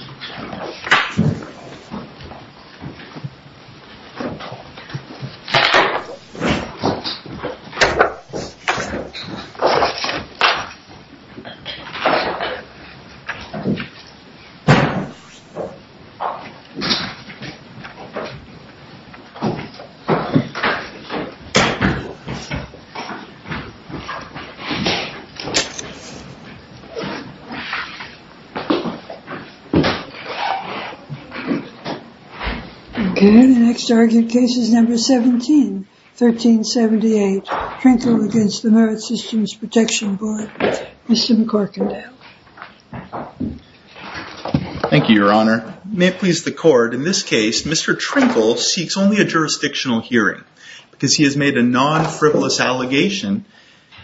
MSWordDoc Word.Document.8 May it please the court, in this case, Mr. Trinkl seeks only a jurisdictional hearing because he has made a non-frivolous allegation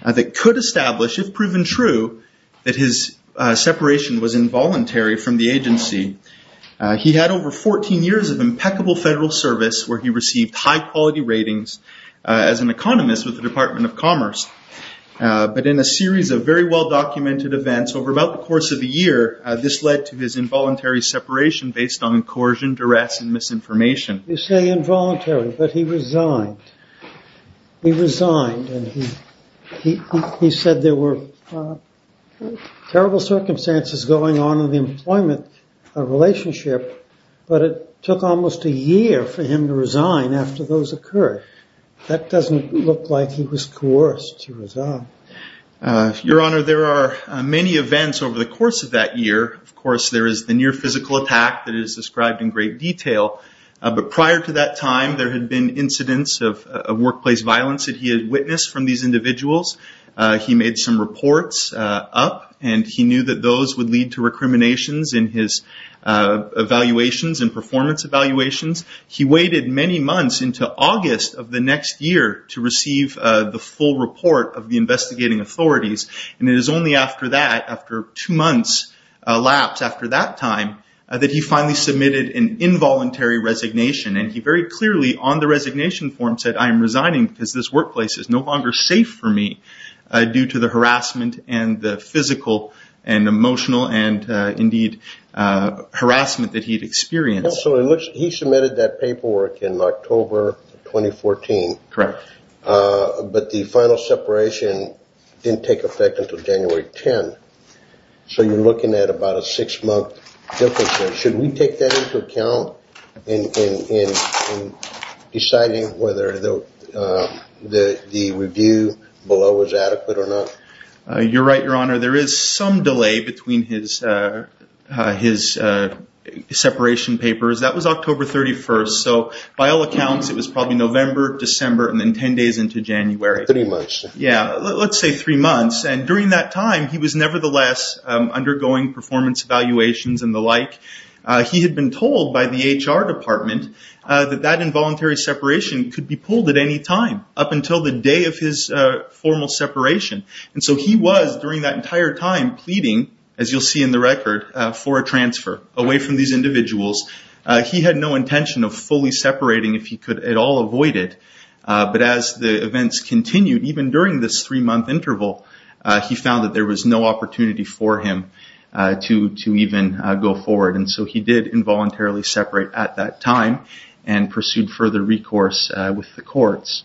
that could establish, if proven true, that his separation was involuntary from the agency. He had over 14 years of impeccable federal service where he received high-quality ratings as an economist with the Department of Commerce. But in a series of very well-documented events, over about the course of a year, this led to his involuntary separation based on coercion, duress, and misinformation. You say involuntary, but he resigned. He resigned and he said there were terrible circumstances going on in the employment relationship, but it took almost a year for him to resign after those occurred. That doesn't look like he was coerced to resign. Your Honor, there are many events over the course of that year. Of course, there is the near physical attack that is described in great detail, but prior to that time there had been incidents of workplace violence that he had witnessed from these individuals. He made some reports up and he knew that those would lead to recriminations in his evaluations and performance evaluations. He waited many months into August of the next year to receive the full report of the investigating authorities, and it is only after that, after two months lapse after that time, that he finally submitted an involuntary resignation. He very clearly on the resignation form said, I am resigning because this workplace is no longer safe for me due to the harassment and the physical and emotional and indeed harassment that he had experienced. He submitted that paperwork in October 2014, but the final separation didn't take effect until January 10. So you are looking at about a six month difference. Should we take that into account in deciding whether the review below was adequate or not? You are right, Your Honor. There is some delay between his separation papers. That was October 31st, so by all accounts it was probably November, December and then ten days into January. Three months. Yes, let's say three months. During that time he was nevertheless undergoing performance evaluations and the like. He had been told by the HR department that that involuntary separation could be pulled at any time up until the day of his formal separation. So he was during that entire time pleading, as you will see in the record, for a transfer away from these individuals. He had no intention of fully separating if he could at all avoid it. But as the events continued, even during this three month interval, he found that there was no opportunity for him to even go forward. So he did involuntarily separate at that time and pursued further recourse with the courts.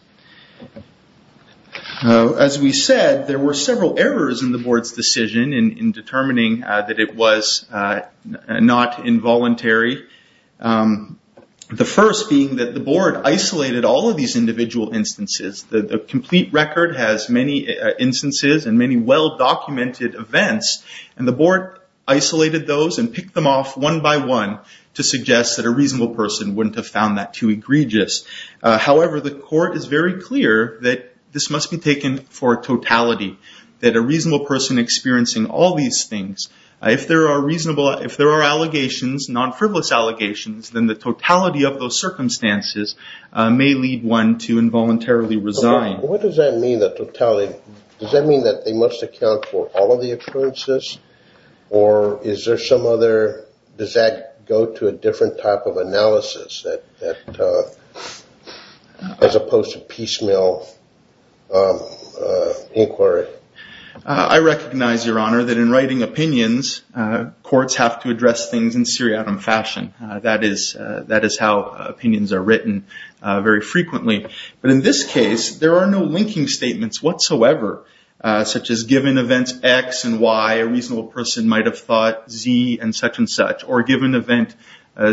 As we said, there were several errors in the Board's decision in determining that it was not involuntary. The first being that the Board isolated all of these individual instances. The complete record has many instances and many well documented events and the Board isolated those and picked them off one by one to suggest that a reasonable person wouldn't have found that too egregious. However, the court is very clear that this must be taken for totality, that a reasonable person experiencing all these things, if there are allegations, non-frivolous allegations, then the totality of those circumstances may lead one to involuntarily resign. What does that mean, the totality? Does that mean that they must account for all of the occurrences or is there some other, does that go to a different type of analysis as opposed to piecemeal inquiry? I recognize, Your Honor, that in writing opinions, courts have to address things in seriatim fashion. That is how opinions are written very frequently. But in this case, there are no linking statements whatsoever, such as given events X and Y, a reasonable person might have thought Z and such and such. Or given event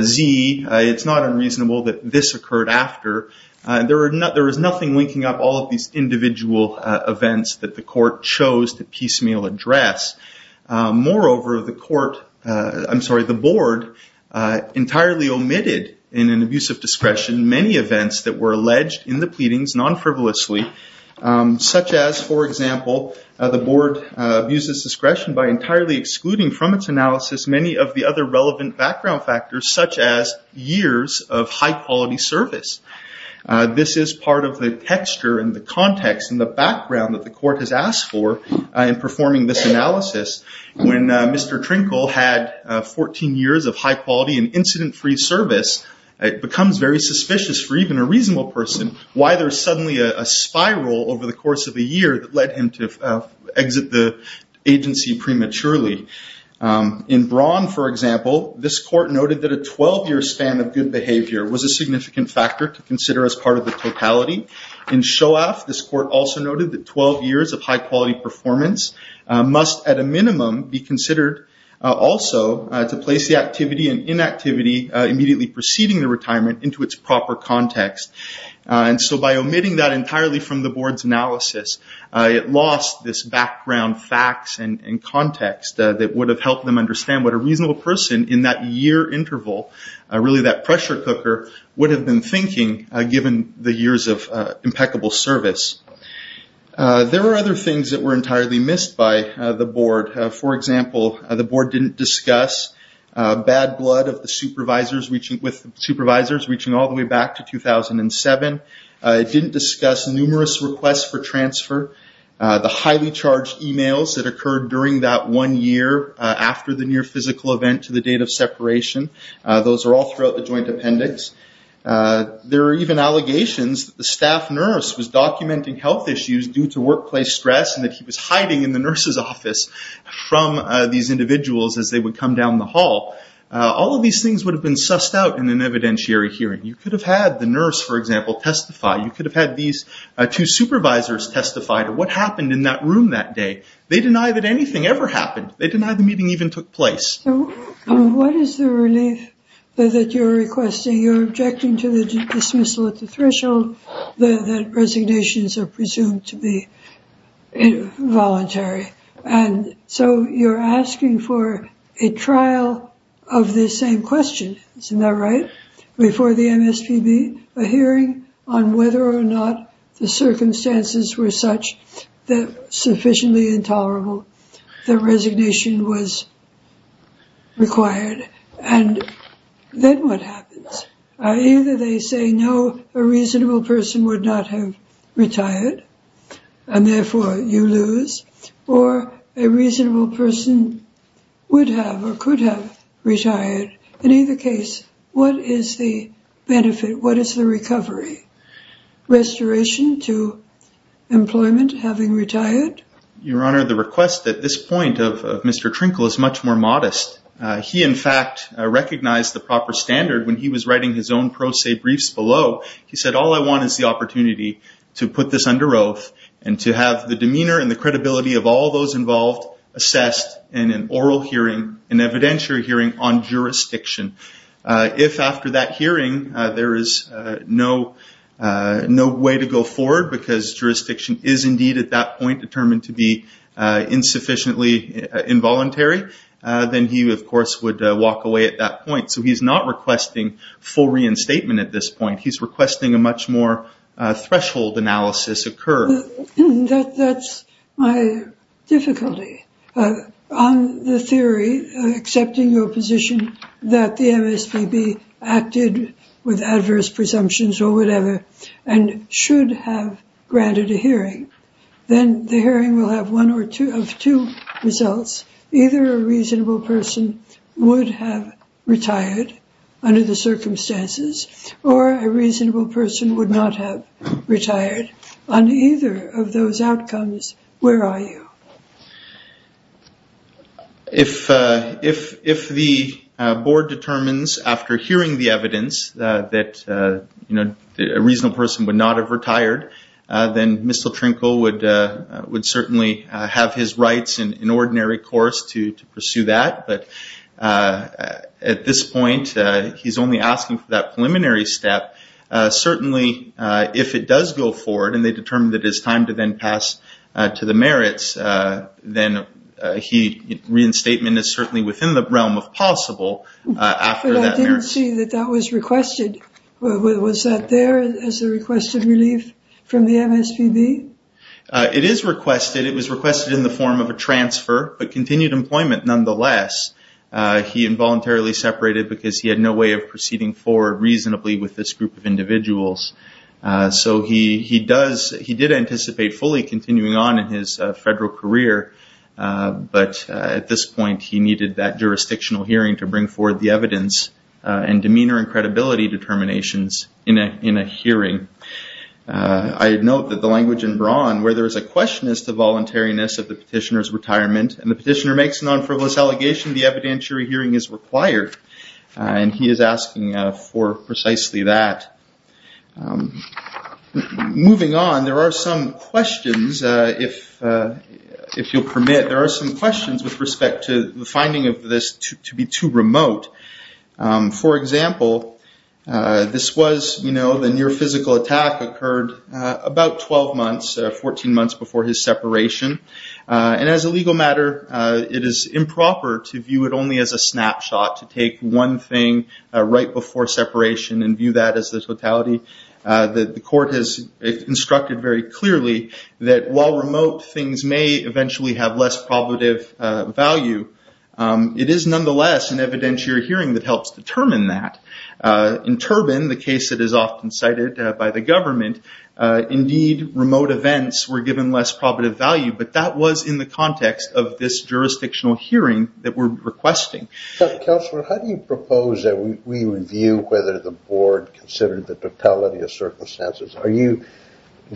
Z, it's not unreasonable that this occurred after. There is nothing linking up all of these individual events that the court chose to piecemeal address. Moreover, the Board entirely omitted in an abuse of discretion many events that were alleged in the pleadings non-frivolously, such as, for example, the Board abuses discretion by entirely excluding from its analysis many of the other relevant background factors, such as years of high-quality service. This is part of the texture and the context and the background that the court has asked for in performing this analysis. When Mr. Trinkle had 14 years of high-quality and incident-free service, it becomes very suspicious for even a reasonable person why there is suddenly a spiral over the course of a year that led him to exit the agency prematurely. In Braun, for example, this court noted that a 12-year span of good behavior was a significant factor to consider as part of the totality. In Shoaff, this court also noted that 12 years of high-quality performance must, at a minimum, be considered also to place the activity and inactivity immediately preceding the retirement into its proper context. And so by omitting that entirely from the Board's analysis, it lost this background facts and context that would have helped them understand what a reasonable person in that year interval, really that pressure cooker, would have been thinking given the years of impeccable service. There were other things that were entirely missed by the Board. For example, the Board didn't discuss bad blood with the supervisors reaching all the way back to 2007. It didn't discuss numerous requests for transfer. The highly charged emails that occurred during that one year after the near-physical event to the date of separation, those are all throughout the joint appendix. There are even allegations that the staff nurse was documenting health issues due to workplace stress and that he was hiding in the nurse's office from these individuals as they would come down the hall. All of these things would have been sussed out in an evidentiary hearing. You could have had the nurse, for example, testify. You could have had these two supervisors testify to what happened in that room that day. They deny that anything ever happened. They deny the meeting even took place. What is the relief that you're requesting? You're objecting to the dismissal at the threshold that resignations are presumed to be involuntary. And so you're asking for a trial of this same question, isn't that right, before the MSPB, a hearing on whether or not the circumstances were such that sufficiently intolerable that resignation was required. And then what happens? Either they say, no, a reasonable person would not have retired and therefore you lose, or a reasonable person would have or could have retired. In either case, what is the benefit? What is the recovery? Restoration to employment having retired? Your Honor, the request at this point of Mr. Trinkle is much more modest. He in fact recognized the proper standard when he was writing his own pro se briefs below. He said, all I want is the opportunity to put this under oath and to have the demeanor and the credibility of all those involved assessed in an oral hearing, an evidentiary hearing on jurisdiction. If after that hearing there is no way to go forward because jurisdiction is indeed at that point determined to be insufficiently involuntary, then he of course would walk away at that point. So he's not requesting full reinstatement at this point. He's requesting a much more threshold analysis occur. That's my difficulty. On the theory, accepting your position that the MSPB acted with adverse presumptions or whatever and should have granted a hearing, then the hearing will have one or two of two results. Either a reasonable person would have retired under the circumstances, or a reasonable person would not have retired. On either of those outcomes, where are you? If the board determines after hearing the evidence that a reasonable person would not have retired, then Mr. Trinkle would certainly have his rights in ordinary course to pursue that. At this point, he's only asking for that preliminary step. Certainly, if it does go forward and they determine that it's time to then pass to the merits, then reinstatement is certainly within the realm of possible after that merits. I didn't see that that was requested. Was that there as a requested relief from the MSPB? It is requested. It was requested in the form of a transfer, but continued employment nonetheless. He involuntarily separated because he had no way of proceeding forward reasonably with this group of individuals. He did anticipate fully continuing on in his federal career, but at this point, he needed that jurisdictional hearing to bring forward the evidence and draw on where there is a question as to voluntariness of the petitioner's retirement. The petitioner makes a non-frivolous allegation the evidentiary hearing is required. He is asking for precisely that. Moving on, there are some questions, if you'll permit. There are some questions with respect to the finding of this to be too remote. For example, this was the near physical attack heard about 12 months, 14 months before his separation. As a legal matter, it is improper to view it only as a snapshot, to take one thing right before separation and view that as the totality. The court has instructed very clearly that while remote things may eventually have less probative value, it is nonetheless an evidentiary hearing that helps determine that. In Turbin, the case that is often cited by the government, indeed remote events were given less probative value, but that was in the context of this jurisdictional hearing that we're requesting. Counselor, how do you propose that we review whether the board considered the totality of circumstances?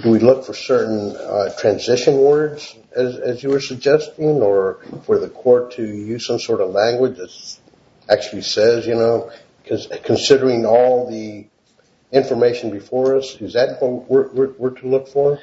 Do we look for certain transition words, as you were suggesting, or for the board, considering all the information before us? Is that what we're to look for?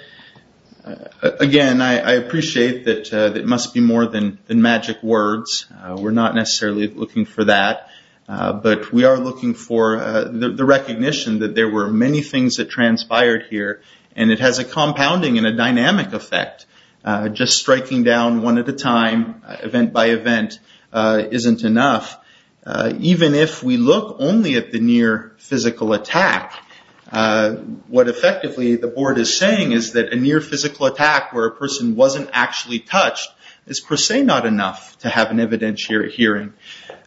Again, I appreciate that it must be more than magic words. We're not necessarily looking for that, but we are looking for the recognition that there were many things that transpired here, and it has a compounding and a dynamic effect. Just striking down one at a time, event by event, isn't enough. Even if we look only at the near physical attack, what effectively the board is saying is that a near physical attack where a person wasn't actually touched is per se not enough to have an evidentiary hearing.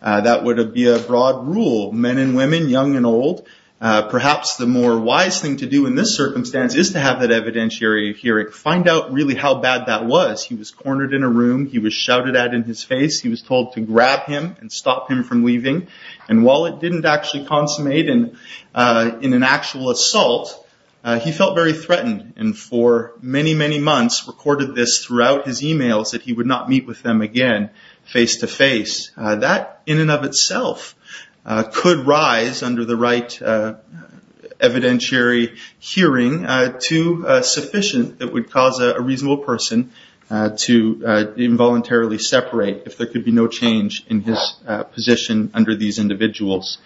That would be a broad rule. Men and women, young and old, perhaps the more wise thing to do in this circumstance is to have that evidentiary hearing. Find out really how bad that was. He was cornered in a room. He was shouted at in his face. He was told to grab him and stop him from leaving. While it didn't actually consummate in an actual assault, he felt very threatened, and for many, many months recorded this throughout his emails that he would not meet with them again face-to-face. That, in and of itself, could rise under the right evidentiary hearing to sufficient that would cause a reasonable person to involuntarily separate if there could be no change in his position under these individuals.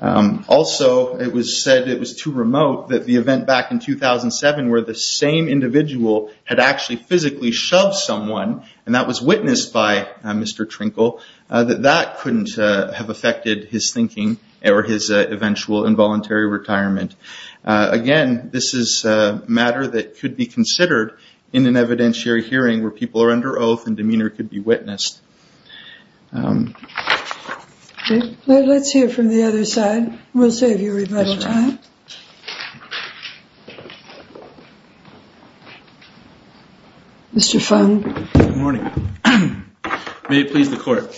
Also, it was said it was too remote that the event back in 2007 where the same individual had actually physically shoved someone, and that was witnessed by Mr. Trinkle, that that couldn't have affected his thinking or his eventual involuntary retirement. Again, this is a matter that could be considered in an evidentiary hearing where people are under oath and demeanor could be witnessed. Let's hear from the other side. We'll save you rebuttal time. Mr. Fung. Good morning. May it please the Court.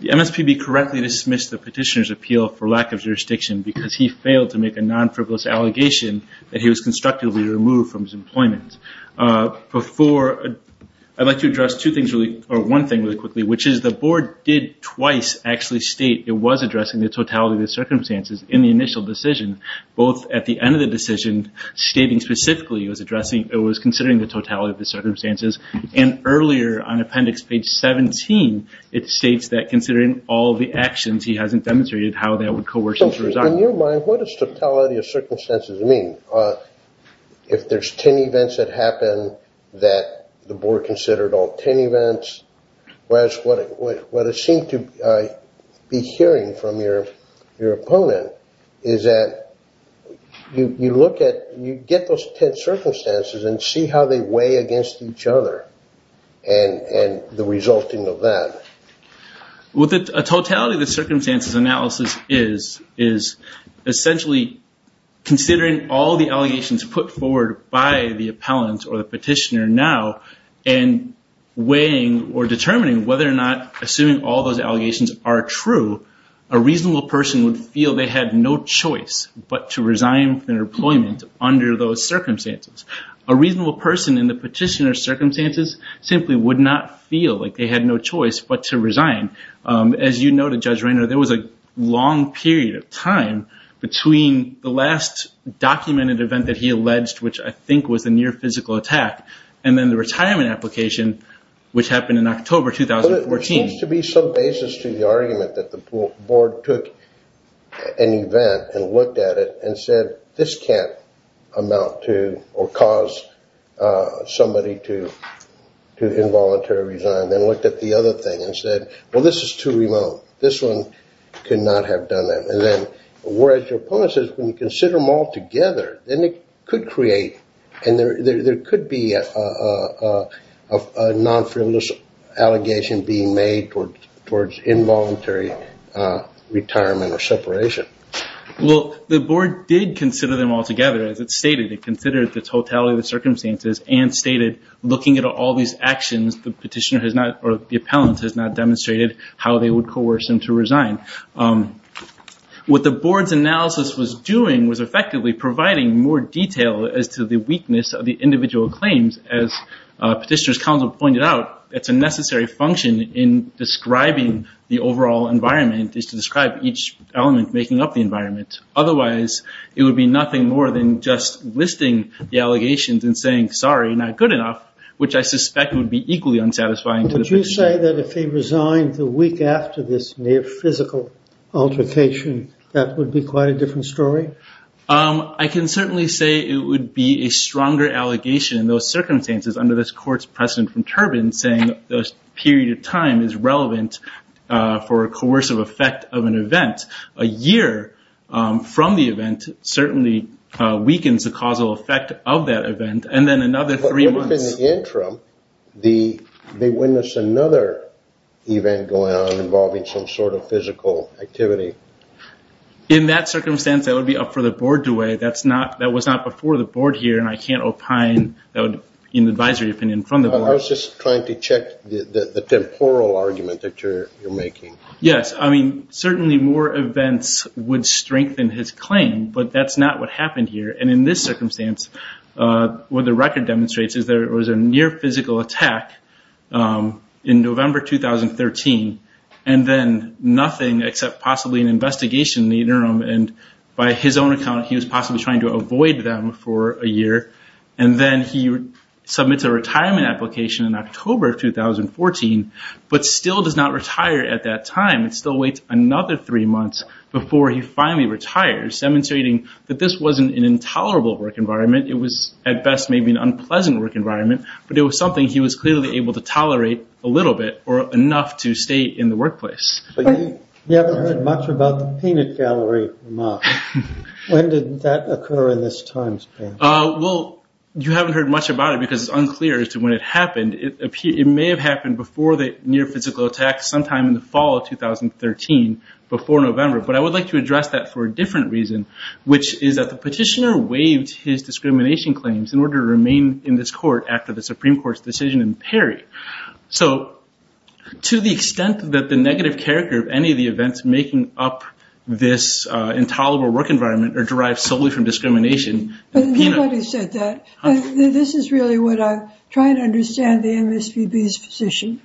The MSPB correctly dismissed the petitioner's appeal for lack of jurisdiction because he failed to make a non-frivolous allegation that he was constructively removed from his employment. I'd like to address one thing really quickly, which is the Board did twice actually state it was addressing the totality of the circumstances in the initial decision, both at the end of the decision stating specifically it was considering the totality of the circumstances, and earlier on appendix page 17, it states that considering all the actions, he hasn't demonstrated how that would coerce him to resign. On your mind, what does totality of circumstances mean? If there's 10 events that happen that the Board considered all 10 events, whereas what it seemed to be hearing from your opponent is that you look at, you get those 10 circumstances and see how they weigh against each other and the resulting of that. With the totality of the circumstances analysis is essentially considering all the allegations put forward by the appellant or the petitioner now and weighing or determining whether or not assuming all those allegations are true, a reasonable person would feel they had no choice but to resign from their employment under those circumstances. A reasonable person in the petitioner's circumstances simply would not feel like they had no choice but to resign. As you noted, Judge Rayner, there was a long period of time between the last documented event that he alleged, which I think was a near physical attack, and then the retirement application, which happened in October 2014. There seems to be some basis to the argument that the Board took an event and looked at it and said, this can't amount to or cause somebody to involuntary resign. Then looked at the other thing and said, well, this is too remote. This one could not have done that. Whereas your opponent says, when you consider them all together, then it could create and there could be a non-frivolous allegation being made towards involuntary retirement or separation. Well, the Board did consider them all together, as it stated. It considered the totality of the circumstances and stated, looking at all these actions, the petitioner has not or the appellant has not demonstrated how they would coerce him to resign. What the Board's analysis was doing was effectively providing more detail as to the weakness of the individual claims. As Petitioner's Counsel pointed out, it's a necessary function in describing the overall environment is to describe each element making up the environment. Otherwise, it would be nothing more than just listing the allegations and saying, sorry, not good enough, which I suspect would be equally unsatisfying to the petitioner. Would you say that if he resigned the week after this near physical altercation, that would be quite a different story? I can certainly say it would be a stronger allegation in those circumstances under this court's precedent from Turbin saying the period of time is relevant for a coercive effect of an event. A year from the event certainly weakens the causal effect of that event, and then another three months. But within the interim, they witness another event going on involving some sort of physical activity. In that circumstance, that would be up for the Board to weigh. That was not before the Board here, and I can't opine that would be an advisory opinion from the Board. I was just trying to check the temporal argument that you're making. Yes. I mean, certainly more events would strengthen his claim, but that's not what happened here. In this circumstance, what the record demonstrates is there was a near physical attack in November 2013, and then nothing except possibly an investigation in the interim. By his own account, he was possibly trying to avoid them for a year, and then he submits a retirement application in October 2014, but still does not retire at that time and still waits another three months before he finally retires, demonstrating that this wasn't an intolerable work environment. It was, at best, maybe an unpleasant work environment, but it was something he was clearly able to tolerate a little bit or enough to stay in the workplace. You haven't heard much about the peanut gallery remark. When did that occur in this time span? Well, you haven't heard much about it because it's unclear as to when it happened. It may have happened before the near physical attack sometime in the fall of 2013, before November. But I would like to address that for a different reason, which is that the petitioner waived his discrimination claims in order to remain in this court after the Supreme Court's decision in Perry. So, to the extent that the negative character of any of the events making up this intolerable work environment are derived solely from discrimination, the peanut gallery... But nobody said that. This is really what I'm trying to understand the MSPB's position,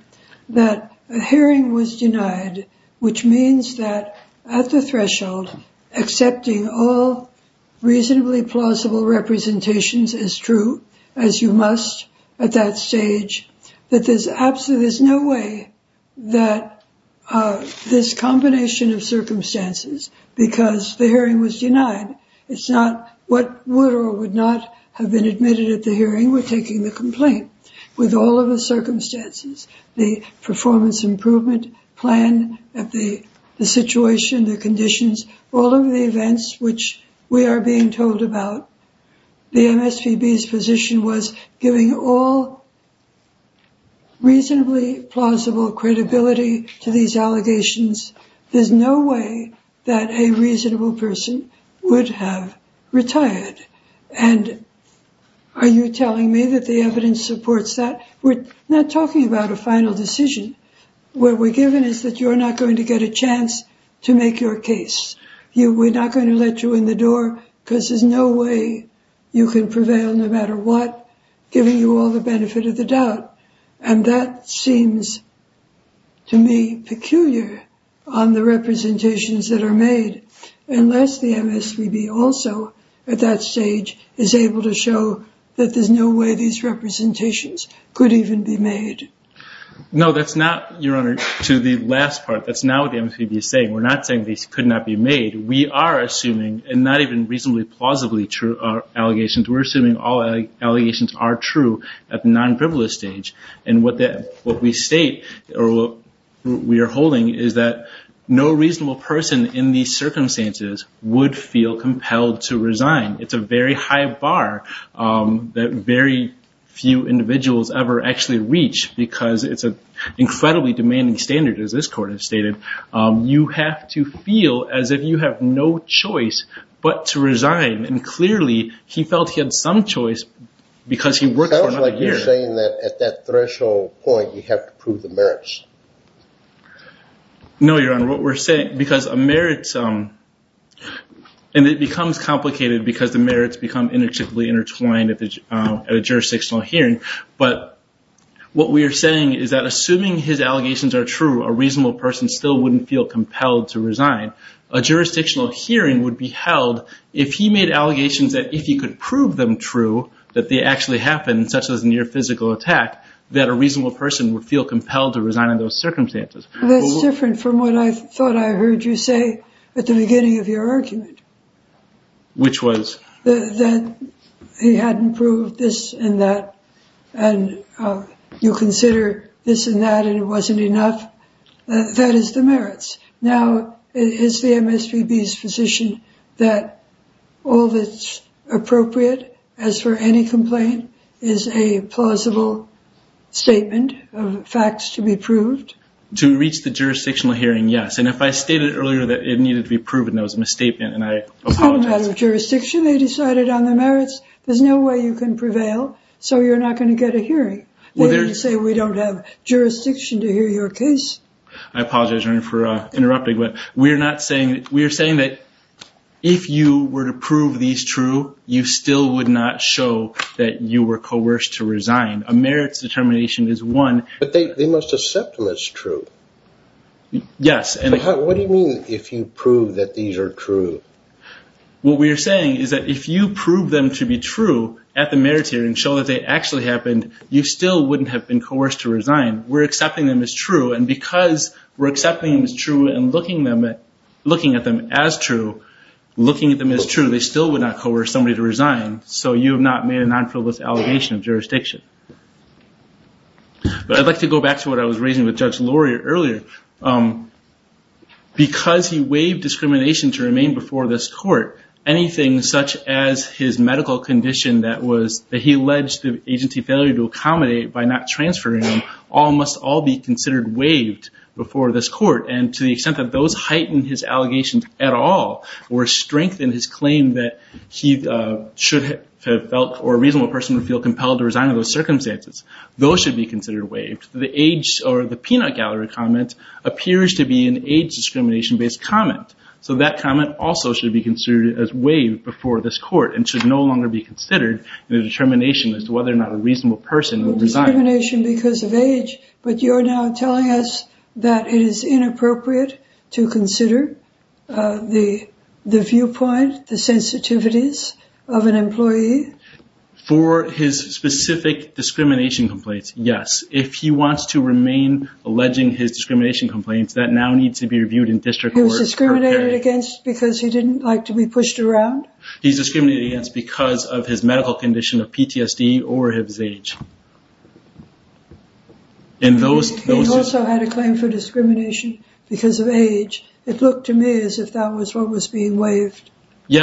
that a hearing was denied, which means that at the threshold, accepting all reasonably plausible representations as true as you must at that stage, that there's absolutely no way that this combination of circumstances, because the hearing was denied, it's not what would or would not have been admitted at the hearing with taking the complaint. With all of the circumstances, the performance improvement plan, the situation, the conditions, all of the events which we are being told about, the MSPB's position was giving all reasonably plausible credibility to these allegations. There's no way that a reasonable person would have retired. And are you telling me that the evidence supports that? We're not talking about a final decision. What we're given is that you're not going to get a chance to make your case. We're not going to let you in the door because there's no way you can prevail no matter what, giving you all the benefit of the doubt. And that seems to me peculiar on the representations that are made, unless the MSPB also at that stage is able to show that there's no way these representations could even be made. No, that's not, Your Honor, to the last part. That's not what the MSPB is saying. We're not saying these could not be made. We are assuming, and not even reasonably plausibly true allegations, we're assuming all allegations are true at the non-privilege stage. And what we state, or what we are holding, is that no reasonable person in these circumstances would feel compelled to resign. It's a very high bar that very few individuals ever actually reach because it's an incredibly demanding standard, as this Court has stated. You have to feel as if you have no choice but to resign. And clearly, he felt he had some choice because he worked for another year. It sounds like you're saying that at that threshold point, you have to prove the merits. No, Your Honor, what we're saying, because a merit, and it becomes complicated because the merits become inextricably intertwined at a jurisdictional hearing, but what we are saying is that assuming his allegations are true, a reasonable person still wouldn't feel compelled to resign. A jurisdictional hearing would be held if he made allegations that if he could prove them true, that they actually happened, such as a near physical attack, that a reasonable person would feel compelled to resign in those circumstances. That's different from what I thought I heard you say at the beginning of your argument. Which was? That he hadn't proved this and that, and you consider this and that, and it wasn't enough. That is the merits. Now, is the MSPB's position that all that's appropriate, as for any complaint, is a plausible statement of facts to be proved? To reach the jurisdictional hearing, yes. And if I stated earlier that it needed to be proven, that was a misstatement, and I apologize. It's not a matter of jurisdiction. They decided on the merits. There's no way you can prevail, so you're not going to get a hearing. They didn't say we don't have jurisdiction to hear your case. I apologize, Your Honor, for interrupting, but we are not saying, we are saying that if you were to prove these true, you still would not show that you were coerced to resign. A merits determination is one. But they must accept when it's true. Yes. What do you mean if you prove that these are true? What we are saying is that if you prove them to be true at the merits hearing, show that they actually happened, you still wouldn't have been coerced to resign. We're accepting them as true, and because we're accepting them as true and looking at them as true, looking at them as true, they still would not coerce somebody to resign, so you have not made a non-frivolous allegation of jurisdiction. But I'd like to go back to what I was raising with Judge Lurie earlier. Because he waived discrimination to remain before this court, anything such as his medical condition that he alleged the agency failure to accommodate by not transferring him must all be considered waived before this court, and to the extent that those heighten his allegations at all or strengthen his claim that he should have felt or a reasonable person would feel compelled to resign under those circumstances, those should be considered waived. The peanut gallery comment appears to be an age discrimination based comment, so that comment also should be considered as waived before this court and should no longer be considered in a determination as to whether or not a reasonable person would resign. Discrimination because of age, but you're now telling us that it is inappropriate to consider the viewpoint, the sensitivities of an employee. For his specific discrimination complaints, yes. If he wants to remain alleging his discrimination complaints, that now needs to be reviewed in district court. He was discriminated against because he didn't like to be pushed around? He's discriminated against because of his medical condition of PTSD or his age. He also had a claim for discrimination because of age. It looked to me as if that was what was being waived. He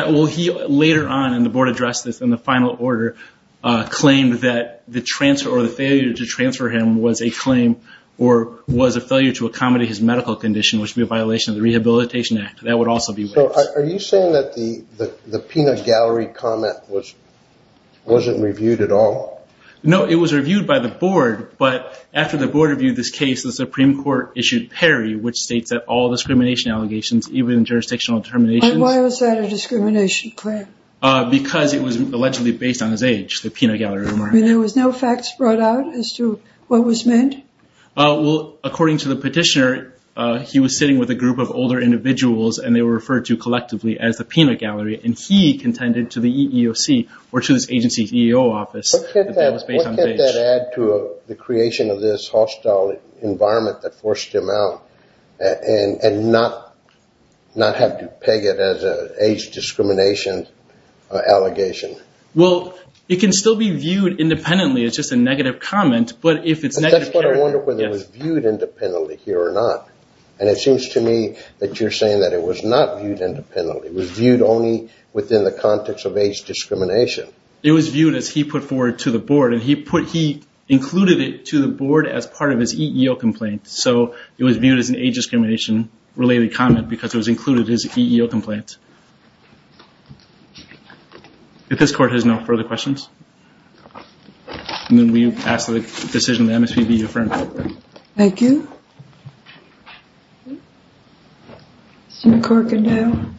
later on, and the board addressed this in the final order, claimed that the transfer or the failure to transfer him was a claim or was a failure to accommodate his medical condition, which would be a violation of the Rehabilitation Act. That would also be waived. Are you saying that the peanut gallery comment wasn't reviewed at all? No, it was reviewed by the board, but after the board reviewed this case, the Supreme Court issued PERI, which states that all discrimination allegations, even jurisdictional determinations... Why was that a discrimination claim? Because it was allegedly based on his age, the peanut gallery rumor. There was no facts brought out as to what was meant? Well, according to the petitioner, he was sitting with a group of older individuals and they were referred to collectively as the peanut gallery, and he contended to the EEOC, or to this agency's EEO office, that that was based on age. What could that add to the creation of this hostile environment that forced him out and not have to peg it as an age discrimination allegation? Well, it can still be viewed independently as just a negative comment, but if it's negative... But that's what I wonder, whether it was viewed independently here or not. And it seems to me that you're saying that it was not viewed independently. It was viewed only within the context of age discrimination. It was viewed as he put forward to the board, and he included it to the board as part of his EEO complaint. So it was viewed as an age discrimination related comment because it was included in his EEO complaint. If this court has no further questions, then we ask that the decision of the MSPB be affirmed. Thank you. Mr. McCorkadale.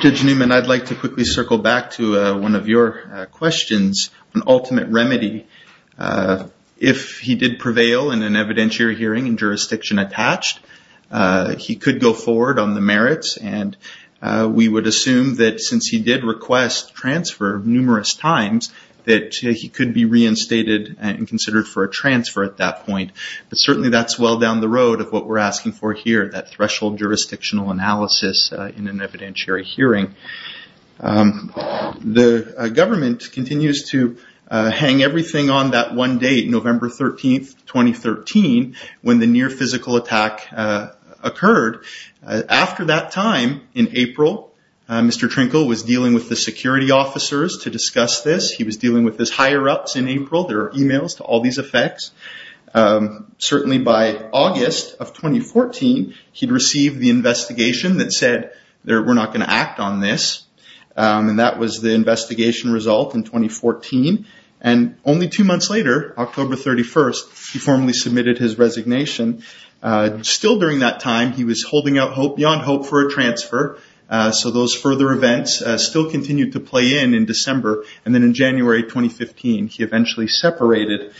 Judge Newman, I'd like to quickly circle back to one of your questions on ultimate remedy. If he did prevail in an evidentiary hearing and jurisdiction attached, he could go forward on the merits. And we would assume that since he did request transfer numerous times, that he could be reinstated and considered for a transfer at that point. But certainly that's well down the road of what we're asking for here, that threshold jurisdictional analysis in an evidentiary hearing. The government continues to hang everything on that one date, November 13, 2013, when the near physical attack occurred. After that time, in April, Mr. Trinkle was dealing with the security officers to discuss this. He was dealing with his higher-ups in April. There are emails to all these effects. Certainly by August of 2014, he'd received the investigation that said, we're not going to act on this. That was the investigation result in 2014. Only two months later, October 31, he formally submitted his resignation. Still during that time, he was holding out hope beyond hope for a transfer. So those further events still continued to play in in December. And then in January 2015, he eventually separated.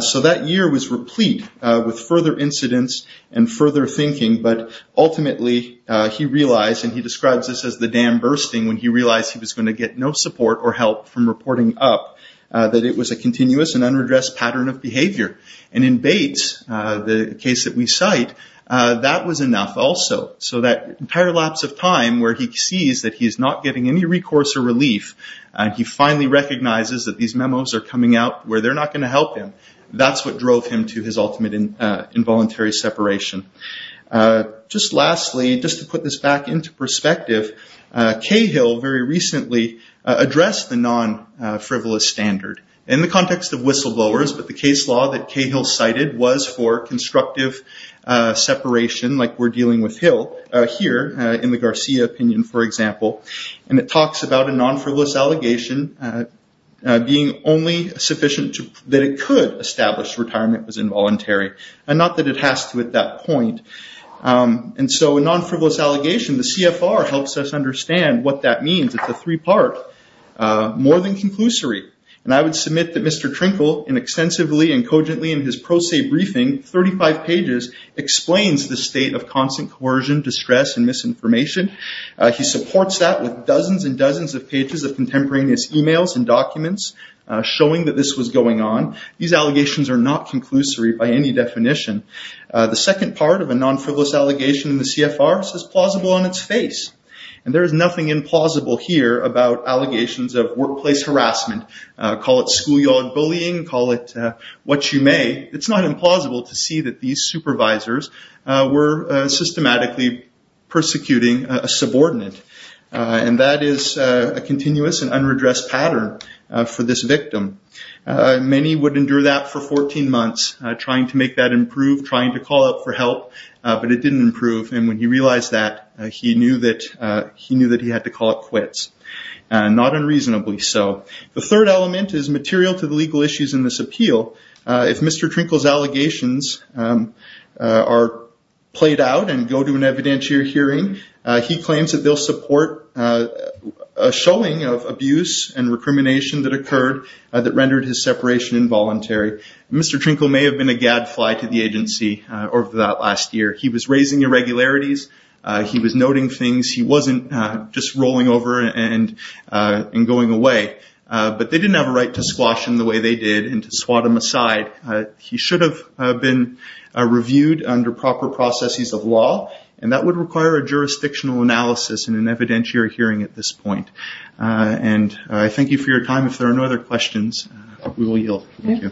So that year was replete with further incidents and further thinking. But ultimately he realized, and he describes this as the dam bursting, when he realized he was going to get no support or help from reporting up, that it was a continuous and unredressed pattern of behavior. And in Bates, the case that we cite, that was enough also. So that entire lapse of time where he sees that he's not getting any recourse or relief, and he finally recognizes that these memos are coming out where they're not going to help him, that's what drove him to his ultimate involuntary separation. Just lastly, just to put this back into perspective, Cahill very recently addressed the non-frivolous standard. In the context of whistleblowers, but the case law that Cahill cited was for constructive separation like we're dealing with Hill here in the Garcia opinion, for example. And it talks about a non-frivolous allegation being only sufficient that it could establish retirement was involuntary, and not that it has to at that point. And so a non-frivolous allegation, the CFR helps us understand what that means. It's a three-part, more than conclusory. And I would submit that Mr. Trinkle, in extensively and cogently in his pro se briefing, 35 pages, explains the state of constant coercion, distress, and misinformation. He supports that with dozens and dozens of pages of contemporaneous emails and documents showing that this was going on. These allegations are not conclusory by any definition. The second part of a non-frivolous allegation in the CFR says plausible on its face. And there is nothing implausible here about allegations of workplace harassment. Call it schoolyard bullying, call it what you may, it's not implausible to see that these supervisors were systematically persecuting a subordinate. And that is a continuous and unredressed pattern for this victim. Many would endure that for 14 months trying to make that improve, trying to call out for help, but it didn't improve. And when he realized that, he knew that he had to call it quits. Not unreasonably so. The third element is material to the legal issues in this appeal. If Mr. Trinkle's allegations are played out and go to an evidentiary hearing, he claims that they'll support a showing of abuse and recrimination that occurred that rendered his separation involuntary. Mr. Trinkle may have been a gadfly to the agency over that last year. He was raising irregularities, he was noting things, he wasn't just rolling over and going away. But they didn't have a right to squash him the way they did and to swat him aside. He should have been reviewed under proper processes of law, and that would require a jurisdictional analysis in an evidentiary hearing at this point. And I thank you for your time. If there are no other questions, we will yield. Thank you.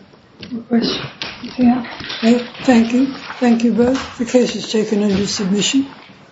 Thank you. Thank you both. The case is taken under submission.